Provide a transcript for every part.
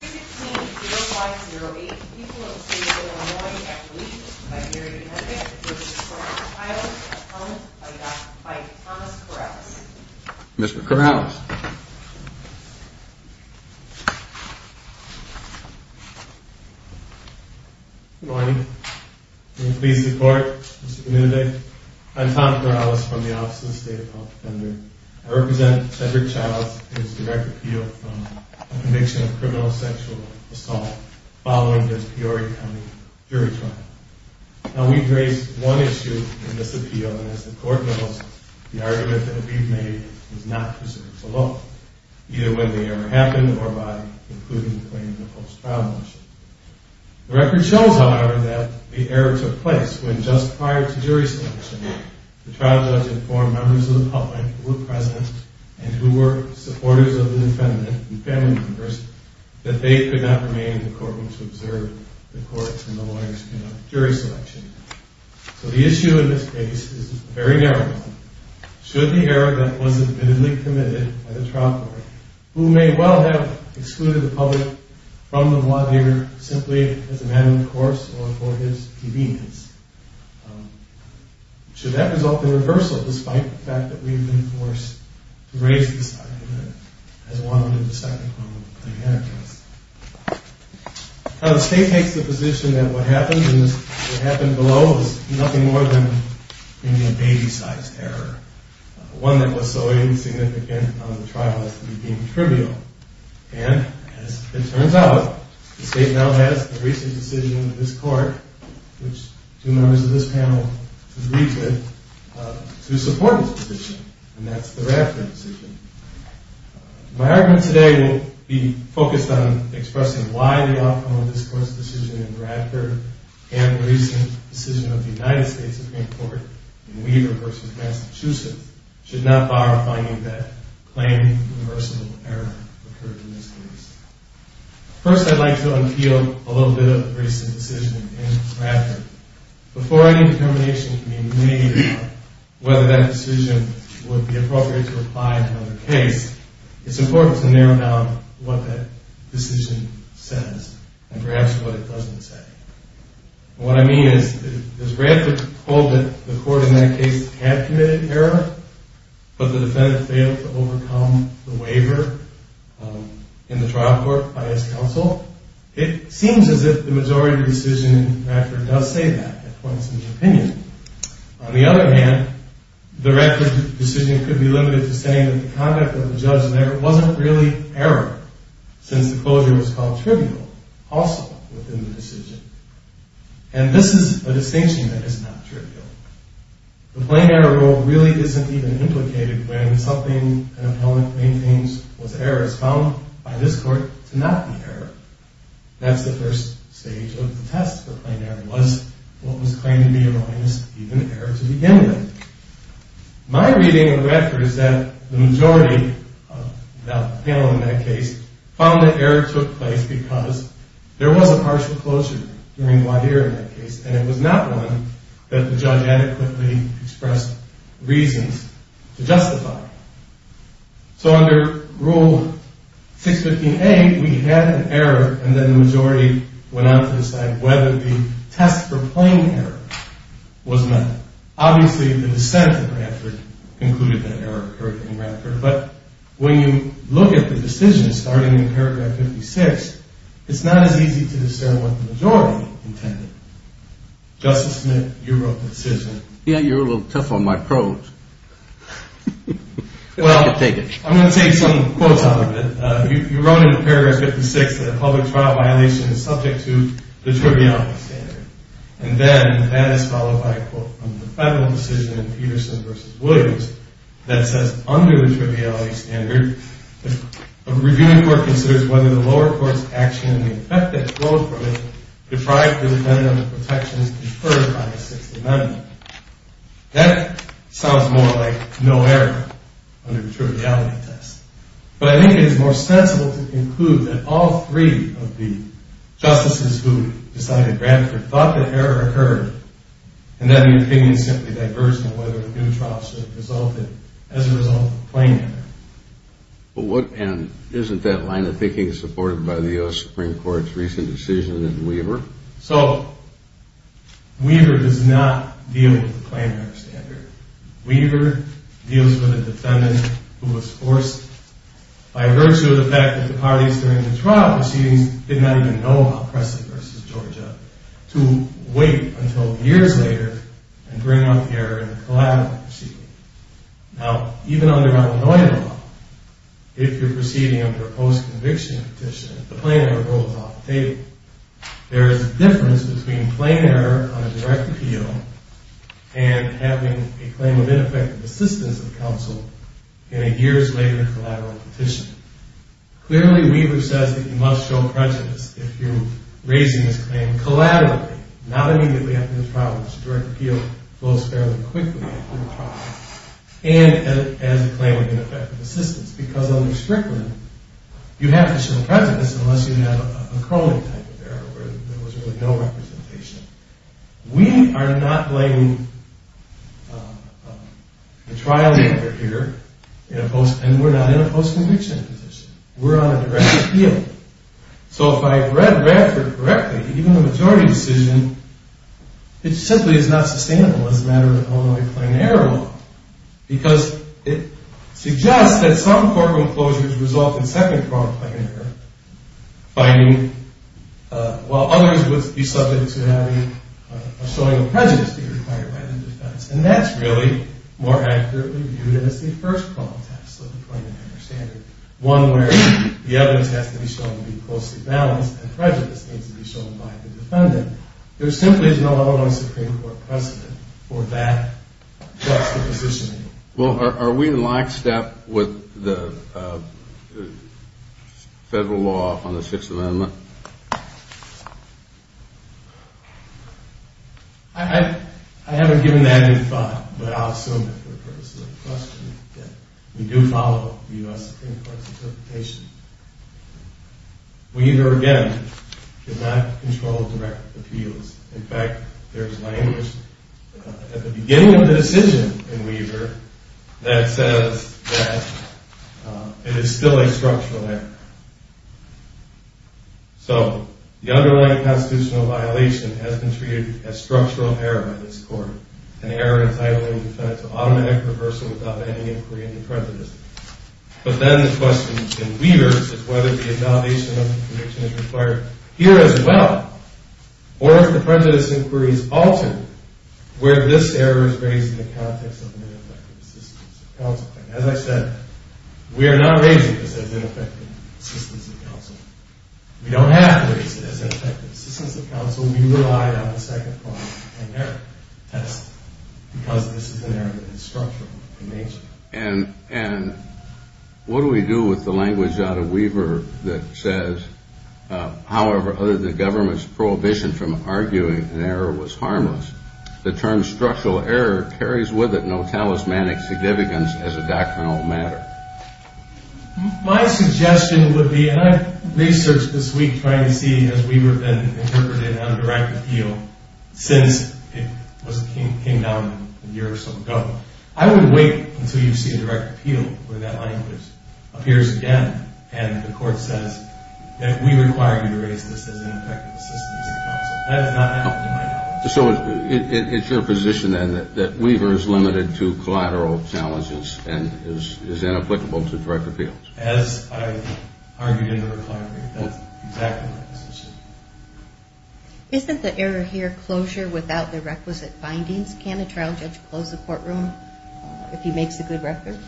0508, people of the state of Illinois, at the lease of Mr. Henry Childs, accompanied by Dr. Mike Thomas Corrales. Mr. Corrales. Good morning. I'm pleased to report, Mr. Community. I'm Tom Corrales from the Office of the State of Health Defender. I represent Henry Childs and his direct appeal from the conviction of criminal sexual assault following the Peoria County jury trial. Now, we've raised one issue in this appeal, and as the court knows, the argument that we've made was not preserved below, either when the error happened or by concluding the claim in the post-trial motion. The record shows, however, that the error took place when just prior to jury selection, the trial judge informed members of the public who were present and who were supporters of the defendant and family members that they could not remain in the courtroom to observe the court and the lawyers conduct jury selection. So the issue in this case is very narrow. Should the error that was admittedly committed by the trial court, who may well have excluded the public from the lawyer simply as a matter of course or for his convenience, should that result in reversal, despite the fact that we've been forced to raise this argument as one of the deceptive moments of the plaintiff's case. Now, the State takes the position that what happened below was nothing more than maybe a baby-sized error, one that was so insignificant on the trial as to be deemed trivial. And as it turns out, the State now has a recent decision in this court which two members of this panel agreed to support this position, and that's the Radford decision. My argument today will be focused on expressing why the outcome of this court's decision in Radford and the recent decision of the United States Supreme Court in Weaver versus Massachusetts should not bar finding that plain universal error occurred in this case. First, I'd like to unpeel a little bit of the recent decision in Radford. Before any determination can be made about whether that decision would be appropriate to apply in another case, it's important to narrow down what that decision says and perhaps what it doesn't say. What I mean is Radford told that the court in that case had committed error, but the defendant failed to overcome the waiver in the trial court by his counsel. It seems as if the majority decision in Radford does say that, it points to the opinion. On the other hand, the Radford decision could be limited to saying that the conduct of the judge there wasn't really error, since the closure was called trivial also within the decision. And this is a distinction that is not trivial. The plain error rule really isn't even implicated when something an appellant maintains was error. It's found by this court to not be error. That's the first stage of the test for plain error, was what was claimed to be erroneous even error to begin with. My reading of Radford is that the majority of the panel in that case found that error took place because there was a partial closure during the hearing in that case, and it was not one that the judge adequately expressed reasons to justify. So under Rule 615A, we had an error, and then the majority went on to decide whether the test for plain error was met. Obviously, the dissent of Radford concluded that error occurred in Radford, but when you look at the decision starting in paragraph 56, it's not as easy to discern what the majority intended. Justice Smith, you wrote the decision. Yeah, you're a little tough on my prose. Well, I'm going to take some quotes out of it. You wrote in paragraph 56 that a public trial violation is subject to the triviality standard, and then that is followed by a quote from the federal decision in Peterson v. Williams that says under the triviality standard, a reviewing court considers whether the lower court's action and the effect that flowed from it deprived the defendant of the protections deferred by the Sixth Amendment. That sounds more like no error under the triviality test, but I think it is more sensible to conclude that all three of the justices who decided Radford thought that error occurred, and that opinion simply diverged on whether a new trial should have resulted as a result of the plain error. And isn't that line of thinking supported by the U.S. Supreme Court's recent decision in Weaver? So, Weaver does not deal with the plain error standard. Weaver deals with a defendant who was forced, by virtue of the fact that the parties during the trial proceedings did not even know about Presley v. Georgia, to wait until years later and bring up the error in the collateral proceeding. Now, even under Arnolino law, if you're proceeding under a post-conviction petition, the plain error rule is off the table. There is a difference between plain error on a direct appeal and having a claim of ineffective assistance of counsel in a years later collateral petition. Clearly, Weaver says that you must show prejudice if you're raising this claim collaterally, not immediately after the trial, because a direct appeal flows fairly quickly after the trial, and as a claim of ineffective assistance, because under strict limit, you have to show prejudice unless you have a Crowley type of error where there was really no representation. We are not laying the trial error here, and we're not in a post-conviction position. We're on a direct appeal. So, if I read Radford correctly, even the majority decision, it simply is not sustainable as a matter of Illinois plain error law, because it suggests that some courtroom closures result in second-pronged plain error, while others would be subject to having a showing of prejudice being required by the defense, and that's really more accurately viewed as the first-pronged test of the plain error standard, one where the evidence has to be shown to be closely balanced and prejudice needs to be shown by the defendant. There simply is no Illinois Supreme Court precedent for that juxtaposition. Well, are we in lockstep with the federal law on the Sixth Amendment? I haven't given that any thought, but I'll assume that for the purposes of the question that we do follow the U.S. Supreme Court's interpretation. Weaver, again, did not control direct appeals. In fact, there's language at the beginning of the decision in Weaver that says that it is still a structural error. So, the underlying constitutional violation has been treated as structural error by this court, an error entitling the defendant to automatic reversal without any inquiry into prejudice. But then the question in Weaver is whether the invalidation of the prediction is required here as well, or if the prejudice inquiries alter where this error is raised in the context of an ineffective assistance of counsel. As I said, we are not raising this as ineffective assistance of counsel. We don't have to raise it as ineffective assistance of counsel. We rely on the second-pronged test because this is an error that is structural in nature. And what do we do with the language out of Weaver that says, however, other than the government's prohibition from arguing an error was harmless, the term structural error carries with it no talismanic significance as a doctrinal matter? My suggestion would be, and I've researched this week trying to see if Weaver has been interpreted on a direct appeal since it came down a year or so ago. I would wait until you see a direct appeal where that language appears again and the court says that we require you to raise this as ineffective assistance of counsel. That is not how we might do it. So it's your position then that Weaver is limited to collateral challenges and is inapplicable to direct appeals? As I argued in the requirement, that's exactly my position. Isn't the error here closure without the requisite findings? Can a trial judge close a courtroom if he makes a good record?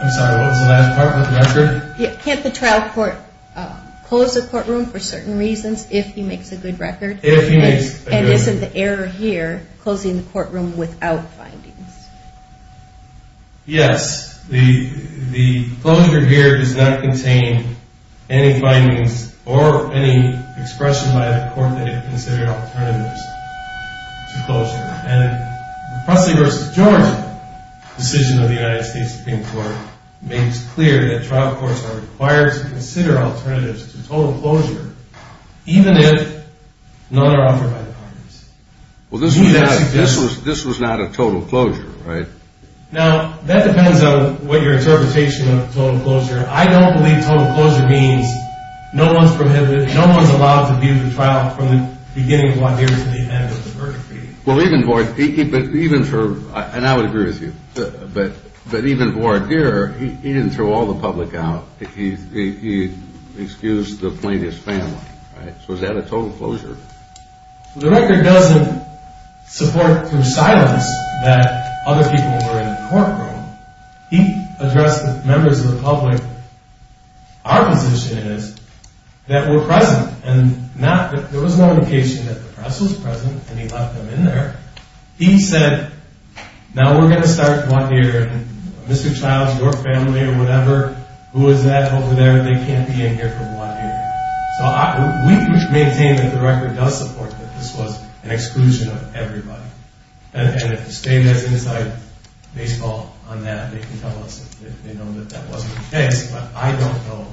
I'm sorry, what was the last part? Record? Can't the trial court close a courtroom for certain reasons if he makes a good record? If he makes a good record. And isn't the error here closing the courtroom without findings? Yes. The closure here does not contain any findings or any expression by the court that it considered alternatives to closure. And the Presley v. George decision of the United States Supreme Court makes clear that trial courts are required to consider alternatives to total closure even if none are offered by the parties. Well, this was not a total closure, right? Now, that depends on what your interpretation of total closure. I don't believe total closure means no one's allowed to view the trial from the beginning of voir dire to the end of the verdict. And I would agree with you. But even voir dire, he didn't throw all the public out. He excused the plaintiff's family, right? So is that a total closure? The record doesn't support through silence that other people were in the courtroom. He addressed the members of the public. Our position is that we're present. And there was no indication that the press was present, and he left them in there. He said, now we're going to start voir dire, and Mr. Childs, your family, or whatever, who is that over there, they can't be in here for voir dire. So we maintain that the record does support that this was an exclusion of everybody. And if the state has to decide baseball on that, they can tell us if they know that that wasn't the case. But I don't know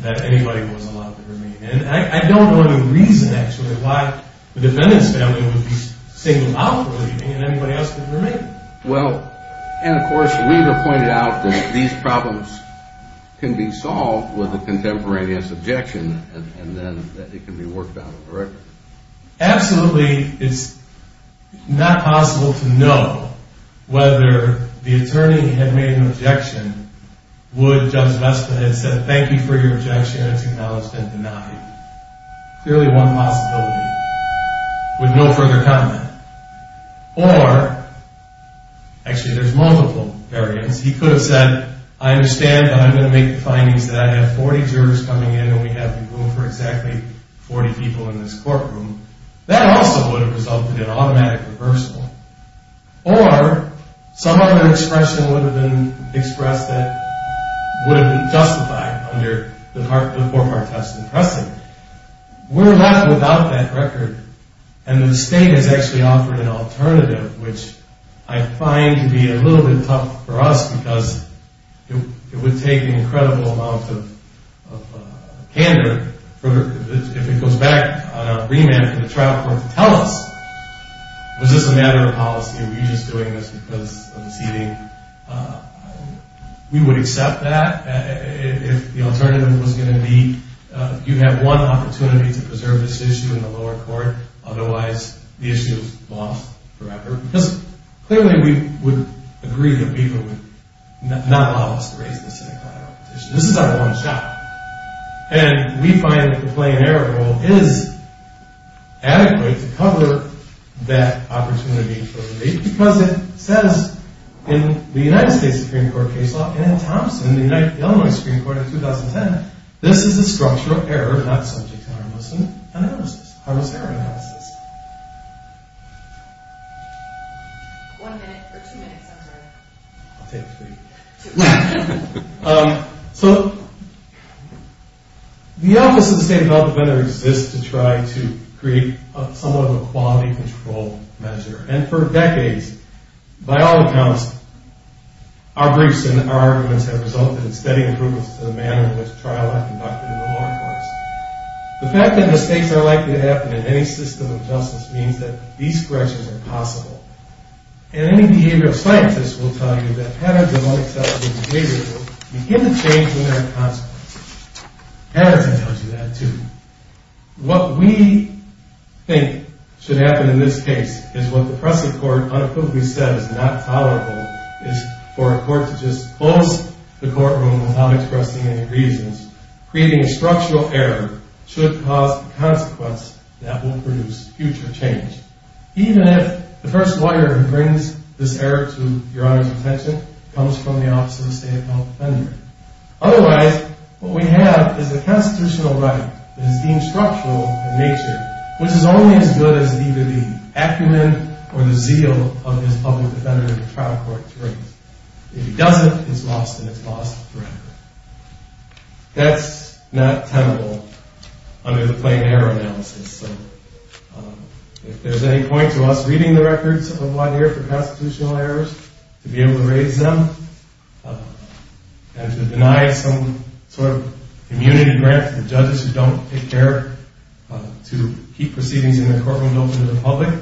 that anybody was allowed to remain. And I don't know any reason, actually, why the defendant's family would be singled out for leaving, and anybody else could remain. Well, and, of course, you pointed out that these problems can be solved with a contemporaneous objection, and then it can be worked out on the record. Absolutely, it's not possible to know whether the attorney had made an objection, would Judge Vesta have said, thank you for your objection, it's acknowledged and denied. Clearly one possibility, with no further comment. Or, actually, there's multiple variants. He could have said, I understand, but I'm going to make the findings that I have 40 jurors coming in, and we have the room for exactly 40 people in this courtroom. That also would have resulted in automatic reversal. Or, some other expression would have been expressed that would have been justified under the four-part testament precedent. We're left without that record, and the state has actually offered an alternative, which I find to be a little bit tough for us because it would take an incredible amount of candor if it goes back on our remand for the trial court to tell us, was this a matter of policy, are we just doing this because of the seating? We would accept that if the alternative was going to be you have one opportunity to preserve this issue in the lower court, otherwise the issue is lost forever. Because clearly we would agree that FIFA would not allow us to raise this in a trial petition. This is our one shot. And we find that the plain error rule is adequate to cover that opportunity for relief because it says in the United States Supreme Court case law and in Thompson, the Illinois Supreme Court in 2010, this is a structure of error, not subject to harmless analysis. Harmless error analysis. One minute, or two minutes, I'm sorry. I'll take three. So the Office of the State Development Defender exists to try to create somewhat of a quality control measure, and for decades, by all accounts, our briefs and our arguments have resulted in steady improvements to the manner in which trial law is conducted in the lower courts. The fact that mistakes are likely to happen in any system of justice means that these corrections are possible. And any behavioral scientist will tell you that patterns of unacceptable behavior will begin to change when there are consequences. Patterns will tell you that, too. What we think should happen in this case is what the pressing court unequivocally said is not tolerable, is for a court to just close the courtroom without expressing any reasons, creating a structural error, should cause the consequence that will produce future change, even if the first lawyer who brings this error to Your Honor's attention comes from the Office of the State Development Defender. Otherwise, what we have is a constitutional right that is deemed structural in nature, which is only as good as either the acumen or the zeal of this public defender in the trial court to raise. If he doesn't, it's lost, and it's lost forever. That's not tenable under the plain error analysis. So if there's any point to us reading the records of one year for constitutional errors, to be able to raise them, and to deny some sort of immunity grant to the judges who don't take care to keep proceedings in the courtroom open to the public,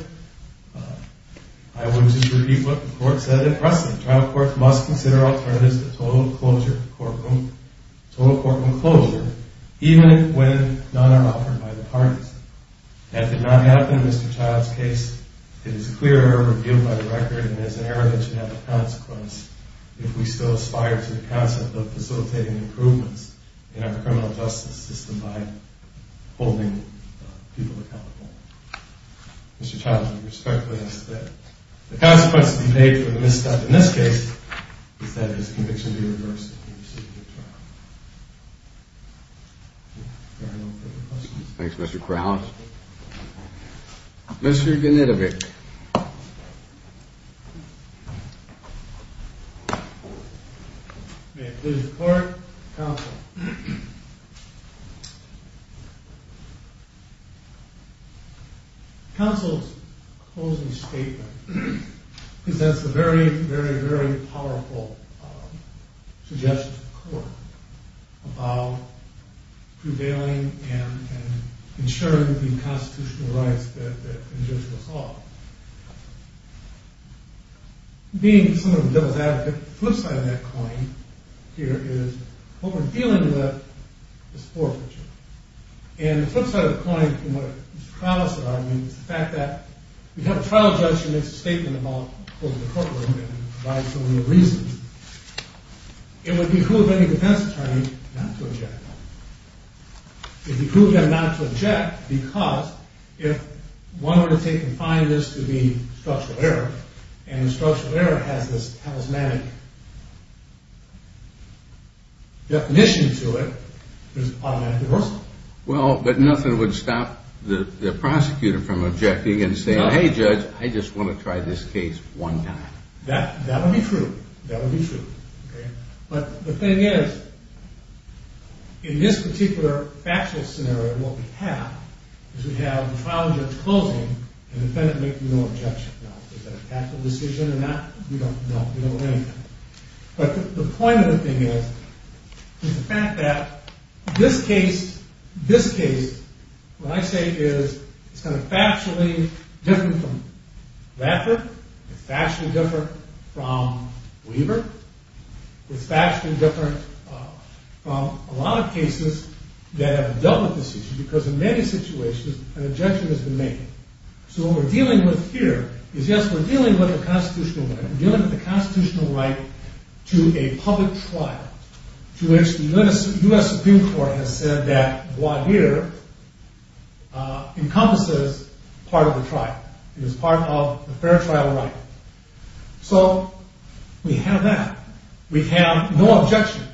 I would just repeat what the court said in precedent. The trial court must consider alternatives to total courtroom closure even when none are offered by the parties. That did not happen in Mr. Child's case. It is a clear error revealed by the record, and it is an error that should have a consequence if we still aspire to the concept of facilitating improvements in our criminal justice system by holding people accountable. Mr. Child, would you respect what I said? The consequence to be paid for the misstep in this case is that his conviction be reversed if he receives a good trial. If there are no further questions. Thanks, Mr. Krause. Mr. Genetovic. May it please the court, counsel. Counsel's closing statement presents a very, very, very powerful suggestion to the court about prevailing and ensuring the constitutional rights that injure us all. Being some of the devil's advocate, the flip side of that coin here is what we're dealing with is forfeiture. And the flip side of the coin, from what Mr. Krause and I agree, is the fact that we have a trial judge who makes a statement about holding the courtroom and provides some of the reasons. It would be cruel of any defense attorney not to object. It would be cruel of him not to object because if one were to take and find this to be structural error, and structural error has this charismatic definition to it, there's an automatic reversal. Well, but nothing would stop the prosecutor from objecting and saying, hey, judge, I just want to try this case one time. That would be true. That would be true. But the thing is, in this particular factual scenario, what we have is we have the trial judge closing and the defendant making no objection. Now, is that a tactical decision or not? We don't know. We don't know anything. But the point of the thing is the fact that this case, this case, what I say is it's kind of factually different from Radford. It's factually different from Weaver. It's factually different from a lot of cases that have dealt with this issue because in many situations an objection has been made. So what we're dealing with here is yes, we're dealing with a constitutional right. We're dealing with a constitutional right to a public trial to which the U.S. Supreme Court has said that voir dire encompasses part of the trial. It is part of the fair trial right. So we have that. We have no objection.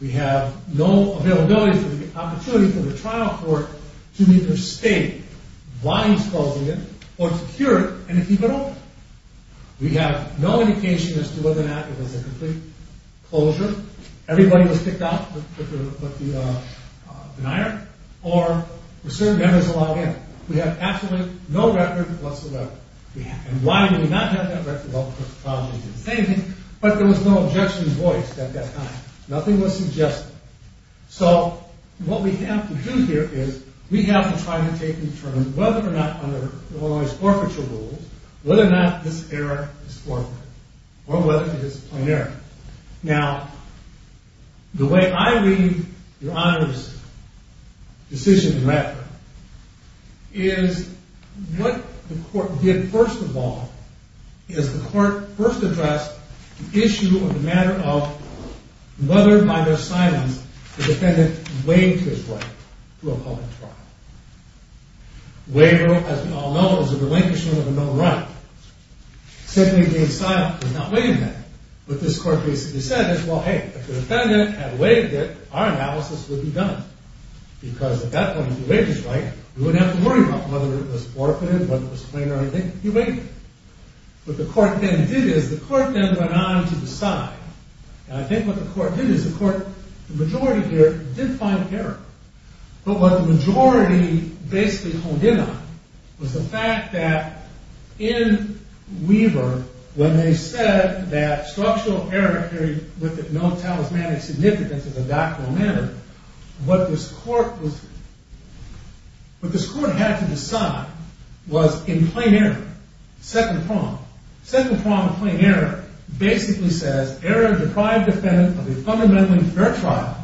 We have no availability for the opportunity for the trial court to either state why he's closing it or to cure it and to keep it open. We have no indication as to whether or not it was a complete closure. Everybody was kicked out with the denier or were served as a log-in. We have absolutely no record whatsoever. And why did we not have that record? Well, because the trial judge didn't say anything, but there was no objection voiced at that time. Nothing was suggested. So what we have to do here is we have to try to take in turn whether or not under the law's forfeiture rules, whether or not this error is forfeited or whether it is a plain error. Now, the way I read Your Honor's decision in Radford is what the court did first of all is the court first addressed the issue of the matter of whether by their silence the defendant waived his right to a public trial. Waiver, as we all know, is a relinquishment of a known right. Simply being silent does not waive that. What this court basically said is, well, hey, if the defendant had waived it, our analysis would be done. Because at that point, if he waived his right, we wouldn't have to worry about whether it was forfeited, whether it was plain or anything. What the court then did is the court then went on to decide. And I think what the court did is the majority here did find error. But what the majority basically honed in on was the fact that in Weaver, when they said that structural error carried with it no talismanic significance as a doctrinal matter, what this court had to decide was in plain error, second prong. Second prong of plain error basically says, error deprived defendant of a fundamentally fair trial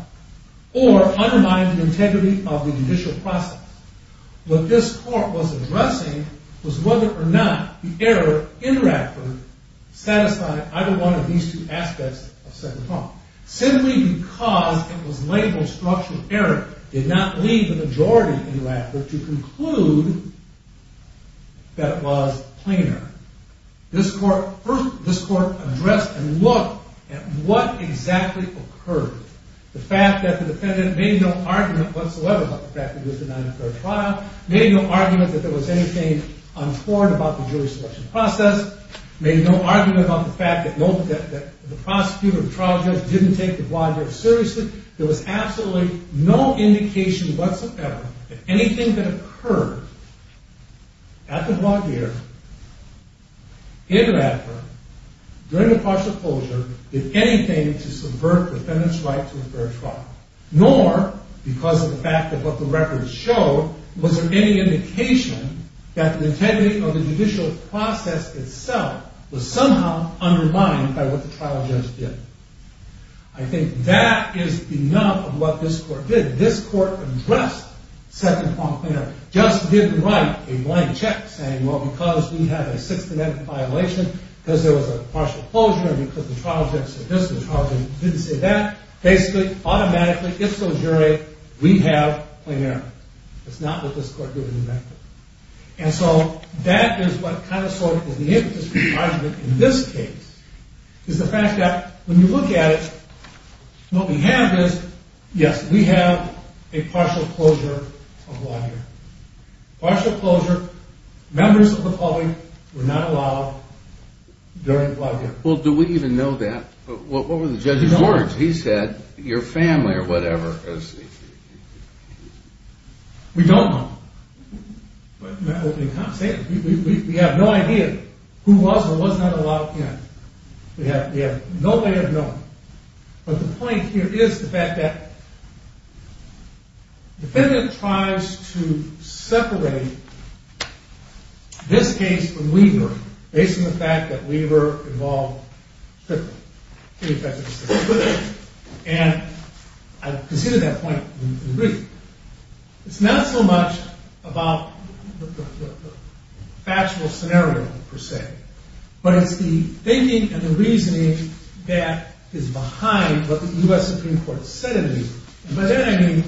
or undermined the integrity of the judicial process. What this court was addressing was whether or not of these two aspects of second prong. Simply because it was labeled structural error did not lead the majority in New Africa to conclude that it was plain error. This court addressed and looked at what exactly occurred. The fact that the defendant made no argument whatsoever about the fact that it was a non-fair trial, made no argument that there was anything on board about the jury selection process, made no argument about the fact that the prosecutor or the trial judge didn't take the Blagheer seriously. There was absolutely no indication whatsoever that anything that occurred at the Blagheer in Radford during the partial closure did anything to subvert the defendant's right to a fair trial. Nor, because of the fact of what the records showed, was there any indication that the integrity of the judicial process itself was somehow undermined by what the trial judge did. I think that is the nub of what this court did. This court addressed second pronged plain error. Just didn't write a blank check saying, well, because we have a sixth amendment violation, because there was a partial closure, and because the trial judge said this, the trial judge didn't say that. Basically, automatically, if so, jury, we have plain error. That's not what this court did in New Mexico. And so that is what kind of sort of is in this case, is the fact that when you look at it, what we have is, yes, we have a partial closure of Blagheer. Partial closure, members of the public were not allowed during Blagheer. Well, do we even know that? What were the judge's words? He said, your family or whatever. We don't know. But in that opening comment, say it. We have no idea who was or was not allowed in. We have no way of knowing. But the point here is the fact that the defendant tries to separate this case from Weaver, based on the fact that Weaver involved strictly, pretty effectively strictly with it. And I've conceded that point in brief. It's not so much about the factual scenario, per se. But it's the thinking and the reasoning that is behind what the US Supreme Court said it is. And by that, I mean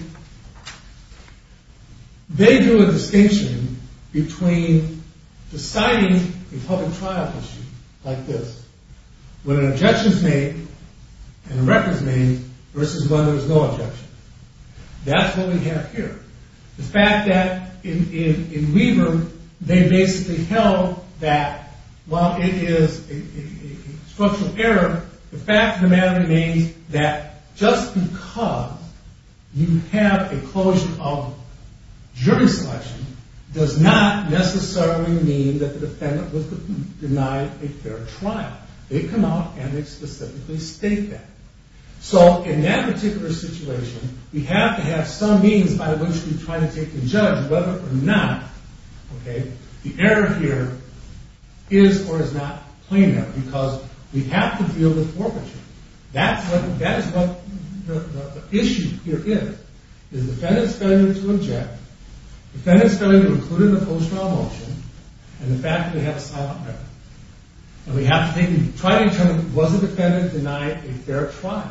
they drew a distinction between deciding a public trial issue like this, when an objection's made and a record's made, versus when there's no objection. That's what we have here. The fact that in Weaver, they basically held that while it is a structural error, the fact of the matter remains that just because you have a closure of jury selection does not necessarily mean that the defendant was denied a fair trial. They come out and they specifically state that. So in that particular situation, we have to have some means by which we try to take the judge whether or not the error here is or is not plain error. Because we have to deal with forfeiture. That is what the issue here is. Is the defendant's failure to object, defendant's failure to include in the post-trial motion, and the fact that we have a silent error. And we have to try to determine was the defendant denied a fair trial.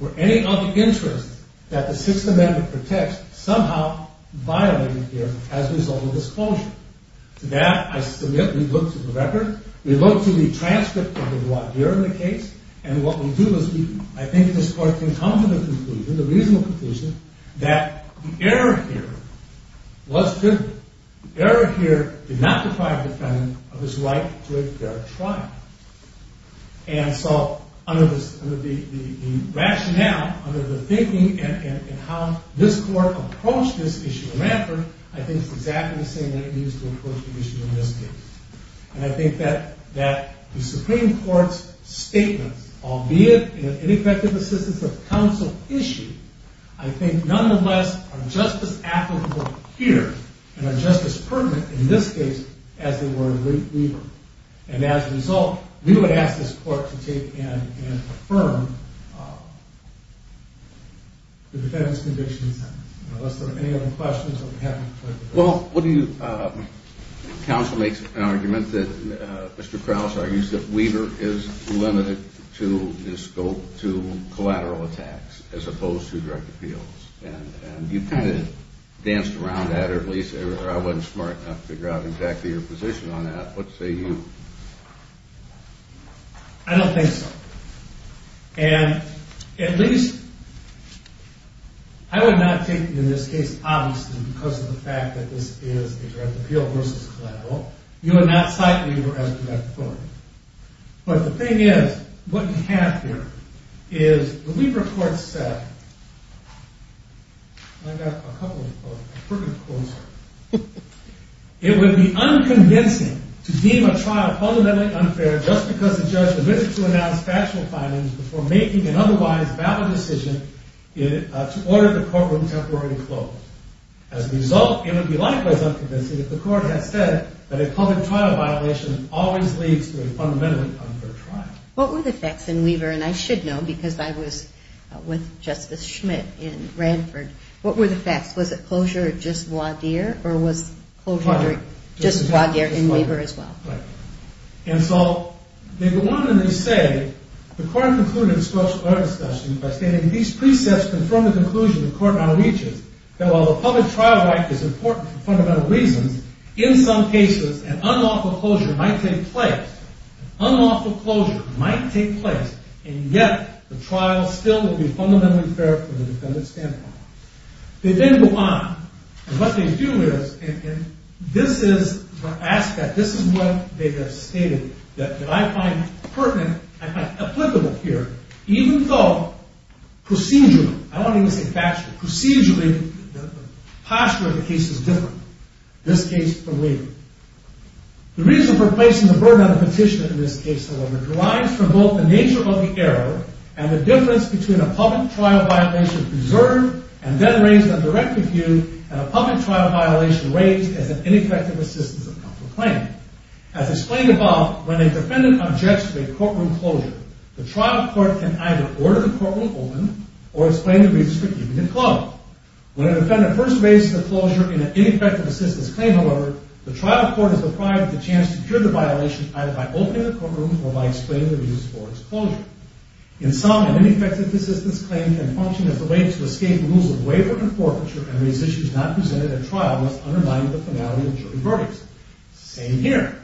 Were any of the interests that the Sixth Amendment protects somehow violated here as a result of this closure? To that, I submit, we look to the record. We look to the transcript of the voir dire in the case. And what we do is we, I think, distort the incumbent conclusion, the reasonable conclusion, that the error here was good. The error here did not deprive the defendant of his right to a fair trial. And so under the rationale, under the thinking, and how this court approached this issue of Ranford, I think it's exactly the same way it needs to approach the issue in this case. And I think that the Supreme Court's statements, albeit in an ineffective assistance of counsel issue, I think nonetheless are just as applicable here and are just as pertinent in this case as they were in Reed v. Weaver. And as a result, we would ask this court to take and affirm the defendant's convictions unless there are any other questions. Well, what do you, counsel makes an argument that Mr. Krause argues that Weaver is limited to the scope to collateral attacks as opposed to direct appeals. And you kind of danced around that or at least, or I wasn't smart enough to figure out exactly your position on that. What say you? I don't think so. And at least, I would not take it in this case obviously because of the fact that this is a direct appeal versus collateral. You would not cite Weaver as a direct opponent. But the thing is, what you have here is the Weaver court said, and I've got a couple of quotes, it would be unconvincing to deem a trial fundamentally unfair just because the judge was willing to announce factual findings before making an otherwise valid decision to order the courtroom temporarily closed. As a result, it would be likewise unconvincing if the court had said that a public trial violation always leads to a fundamentally unfair trial. What were the facts in Weaver? And I should know because I was with Justice Schmidt in Ranford. What were the facts? Was it closure or just voir dire? Or was closure just voir dire in Weaver as well? Right. And so they go on and they say, the court concluded in a discussion by stating these precepts confirm the conclusion the court now reaches that while the public trial right is important for fundamental reasons, in some cases an unlawful closure might take place. An unlawful closure might take place. And yet, the trial still would be fundamentally unfair from a defendant's standpoint. They then go on. And what they do is, and this is the aspect, this is what they have stated that I find pertinent and applicable here, even though procedurally, I don't want to even say factually, procedurally the posture of the case is different, this case from Weaver. The reason for placing the burden on the petitioner in this case, however, derives from both the nature of the error and the difference between a public trial violation preserved and then raised under direct review and a public trial violation raised as an ineffective assistance of comfort claim. As explained above, when a defendant objects to a courtroom closure, the trial court can either order the courtroom open or explain the reasons for keeping it closed. When a defendant first raises a closure in an ineffective assistance claim, however, the trial court is deprived of the chance to cure the violation either by opening the courtroom or by explaining the reasons for its closure. In sum, an ineffective assistance claim can function as a way to escape rules of waiver and forfeiture and raise issues not presented at trial unless undermined with the finality of jury verdicts. Same here.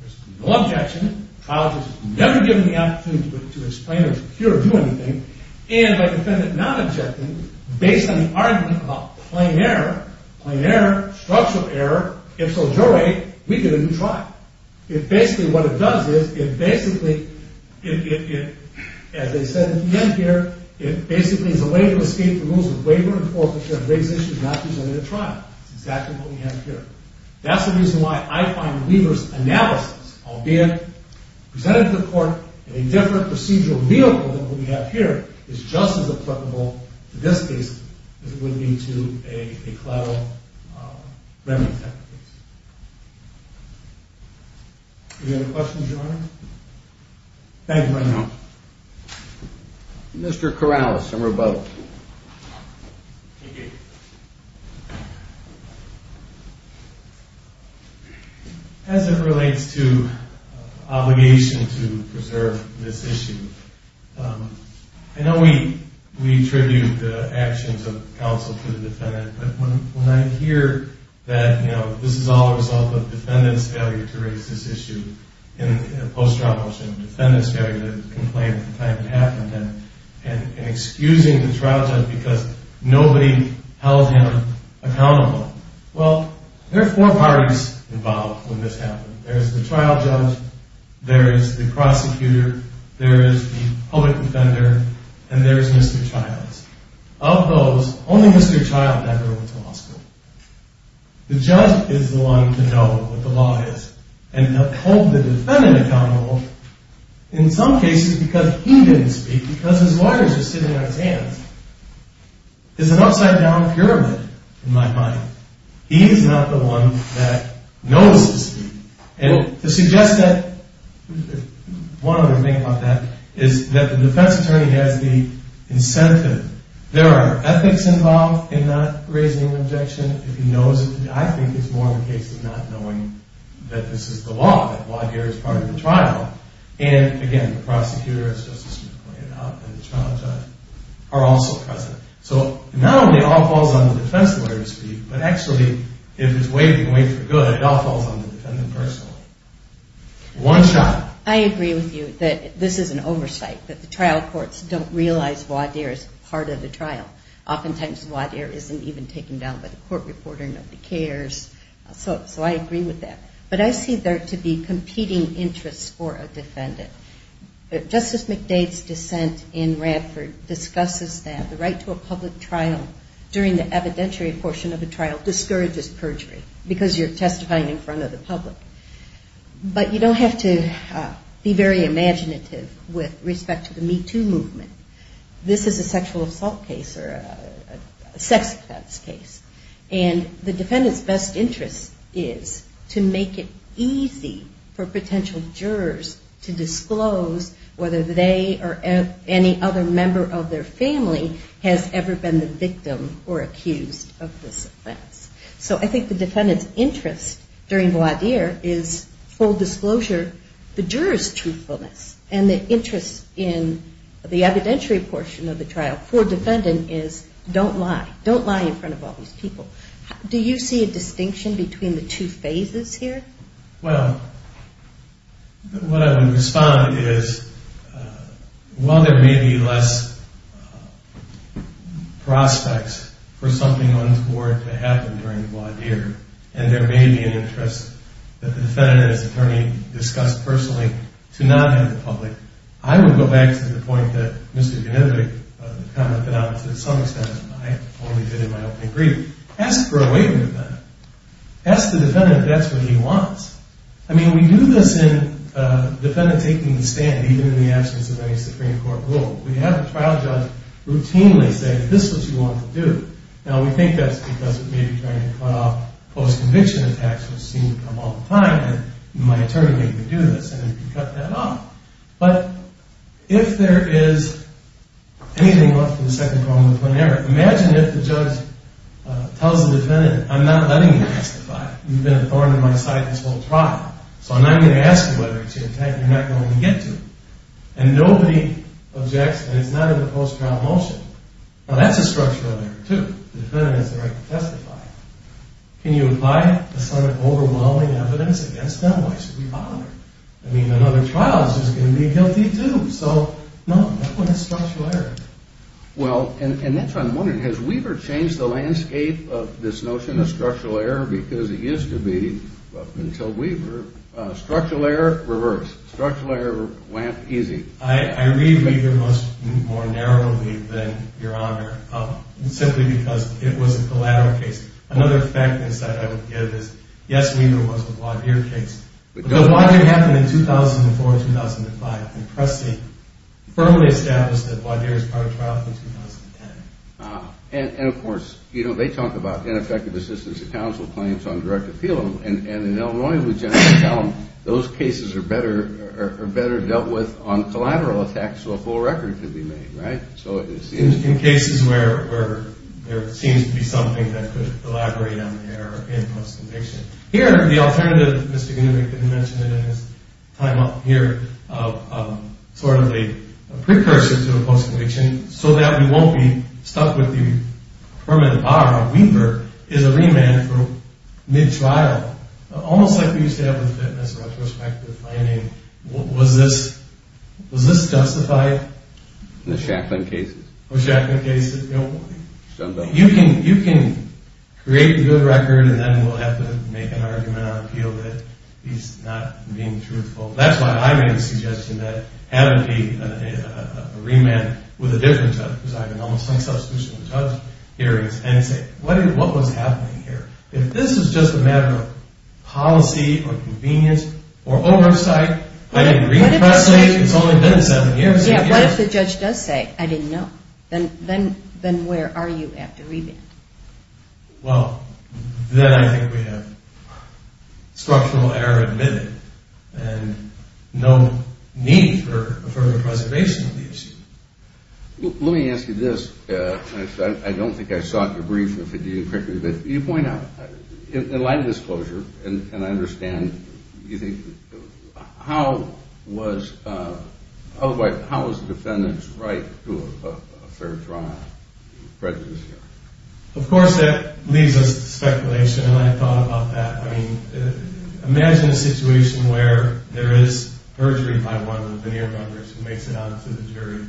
There's no objection. The trial judge is never given the opportunity to explain or to cure or do anything. And by the defendant not objecting, based on the argument about plain error, plain error, structural error, if so juried, we get a new trial. It basically, what it does is, it basically, as I said at the end here, it basically is a way to escape the rules of waiver and forfeiture and raise issues not presented at trial. That's exactly what we have here. That's the reason why I find Weaver's analysis, albeit presented to the court in a different procedural vehicle than what we have here, is just as applicable to this case as it would be to a collateral remedy type case. Any other questions, Your Honor? Thank you, Your Honor. Mr. Corrales, number 12. Thank you. As it relates to obligation to preserve this issue, I know we attribute the actions of counsel to the defendant, but when I hear that this is all a result of the defendant's failure to raise this issue in a post-trial motion, the defendant's failure to complain at the time it happened, and excusing the trial judge because nobody held him accountable, well, there are four parties involved when this happened. There's the trial judge, there is the prosecutor, there is the public defender, and there is Mr. Childs. Of those, only Mr. Child never went to law school. The judge is the one to know what the law is and to hold the defendant accountable in some cases because he didn't speak, because his lawyers are sitting on his hands. It's an upside-down pyramid in my mind. He is not the one that knows to speak. And to suggest that, one other thing about that is that the defense attorney has the incentive. There are ethics involved in not raising an objection. If he knows it, I think it's more of a case of not knowing that this is the law, that voir dire is part of the trial. And again, the prosecutor, as Justice Smith pointed out, and the trial judge are also present. So not only all falls on the defense lawyer to speak, but actually, if he's waiting, waiting for good, it all falls on the defendant personally. One shot. I agree with you that this is an oversight, that the trial courts don't realize voir dire is part of the trial. Oftentimes, voir dire isn't even taken down by the court reporting of the cares. So I agree with that. But I see there to be competing interests for a defendant. Justice McDade's dissent in Radford discusses that the right to a public trial during the evidentiary portion of a trial discourages perjury because you're testifying in front of the public. But you don't have to be very imaginative with respect to the Me Too movement. This is a sexual assault case or a sex offense case. And the defendant's best interest is to make it easy for potential jurors to disclose whether they or any other member of their family has ever been the victim or accused of this offense. So I think the defendant's interest during voir dire is full disclosure the juror's truthfulness and the interest in the evidentiary portion of the trial for a defendant is don't lie. Don't lie in front of all these people. Do you see a distinction between the two phases here? Well, what I would respond is while there may be less prospects for something untoward to happen during voir dire and there may be an interest that the defendant as attorney discussed personally to not have the public, I would go back to the point that Mr. Yanivick commented on to some extent, and I only did in my open agreement, ask for a waiver of that. Ask the defendant if that's what he wants. I mean, we do this in defendant taking the stand even in the absence of any Supreme Court rule. We have a trial judge routinely say this is what you want to do. Now, we think that's because it may be trying to cut off post-conviction attacks, which seem to come all the time, and my attorney may even do this, and it can cut that off. But if there is anything left for the second problem to put an error, imagine if the judge tells the defendant I'm not letting you testify. You've been a thorn in my side this whole trial, so I'm not going to ask you whether it's your attack that you're not going to get to. And nobody objects, and it's not in the post-trial motion. Now, that's a structural error, too. The defendant has the right to testify. Can you apply it to some overwhelming evidence against them? Why should we bother? I mean, another trial is just going to be guilty, too. So, no, that one is structural error. Well, and that's what I'm wondering. Has Weaver changed the landscape of this notion of structural error? Because it used to be, until Weaver, structural error, reverse. Structural error, easy. I read Weaver more narrowly than Your Honor, simply because it was a collateral case. Another fact that I would give is, yes, Weaver was the Wadier case. But Wadier happened in 2004 and 2005, and Presti firmly established that Wadier was part of the trial from 2010. And, of course, they talk about ineffective assistance of counsel claims on direct appeal, and in Illinois, we generally tell them those cases are better dealt with on collateral attacks so a full record can be made, right? In cases where there seems to be something that could elaborate on the error in the post-conviction. Here, the alternative, Mr. Gnudnik didn't mention it in his time up here, sort of a precursor to a post-conviction so that we won't be stuck with the permanent bar on Weaver is a remand for mid-trial, almost like we used to have with the fitness retrospective finding. Was this justified? In the Shacklin cases. You can create a good record and then we'll have to make an argument on appeal that he's not being truthful. That's why I made the suggestion that it had to be a remand with a different judge, because I've been almost on substitution with judge hearings, and say, what was happening here? If this was just a matter of policy or convenience or oversight, I didn't read Presti, it's only been seven years. Yeah, what if the judge does say, I didn't know? Then where are you after remand? Well, then I think we have structural error admitted and no need for a further preservation of the issue. Let me ask you this, I don't think I saw it in your brief but you point out, in light of this closure, and I understand, how was the defendant's right to a Of course that leads us to speculation and I thought about that. I mean, imagine a situation where there is perjury by one of the veneer members who makes it out to the jury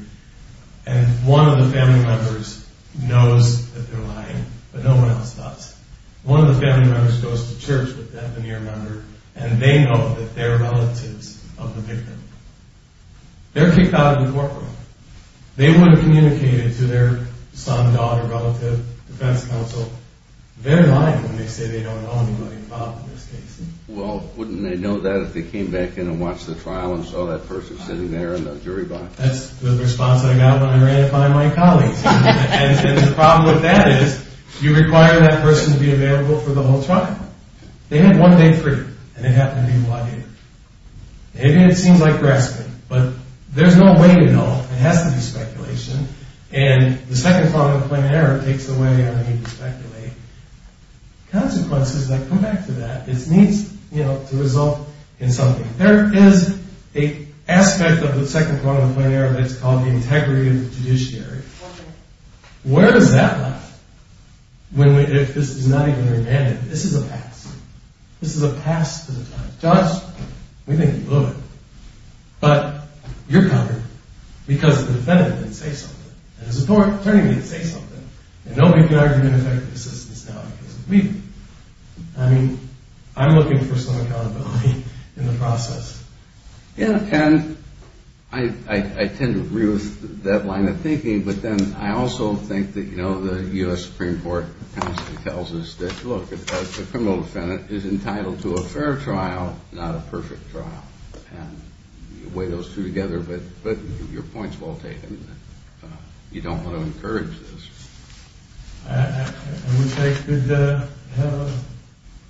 and one of the family members knows that they're lying, but no one else does. One of the family members goes to church with that veneer member and they know that they're relatives of the victim. They're kicked out of the courtroom. They wouldn't communicate it to their son, daughter, relative, defense counsel. They're lying when they say they don't know anybody involved in this case. Well, wouldn't they know that if they came back in and watched the trial and saw that person sitting there in the jury box? That's the response I got when I ran it by my colleagues. And the problem with that is, you require that person to be available for the whole trial. They have one day free. And they have to be here. Maybe it seems like grasping, but there's no way to know. It has to be speculation. And the second part of the plan of error takes away our need to speculate. Consequences that come back to that. It needs to result in something. There is an aspect of the second part of the plan of error that's called the integrity of the judiciary. Where does that lie? If this is not even remanded. This is a past. Judge, we think you blew it. But you're covered because the defendant didn't say something. And the support attorney didn't say something. And nobody can argue an effective assistance now because of me. I mean, I'm looking for some accountability in the process. And I tend to agree with that line of thinking, but then I also think that the U.S. Supreme Court constantly tells us that the criminal defendant is entitled to a fair trial, not a perfect trial. And you weigh those two together, but your point's well taken. You don't want to encourage this. I wish I could have a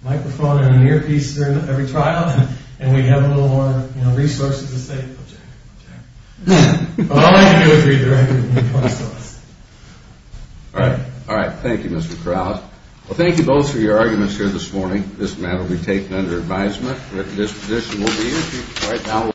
microphone and an earpiece during every trial and we'd have a little more resources to say But all I can do is read the record. All right. Thank you, Mr. Krause. Well, thank you both for your arguments here this morning. This matter will be taken under advisement.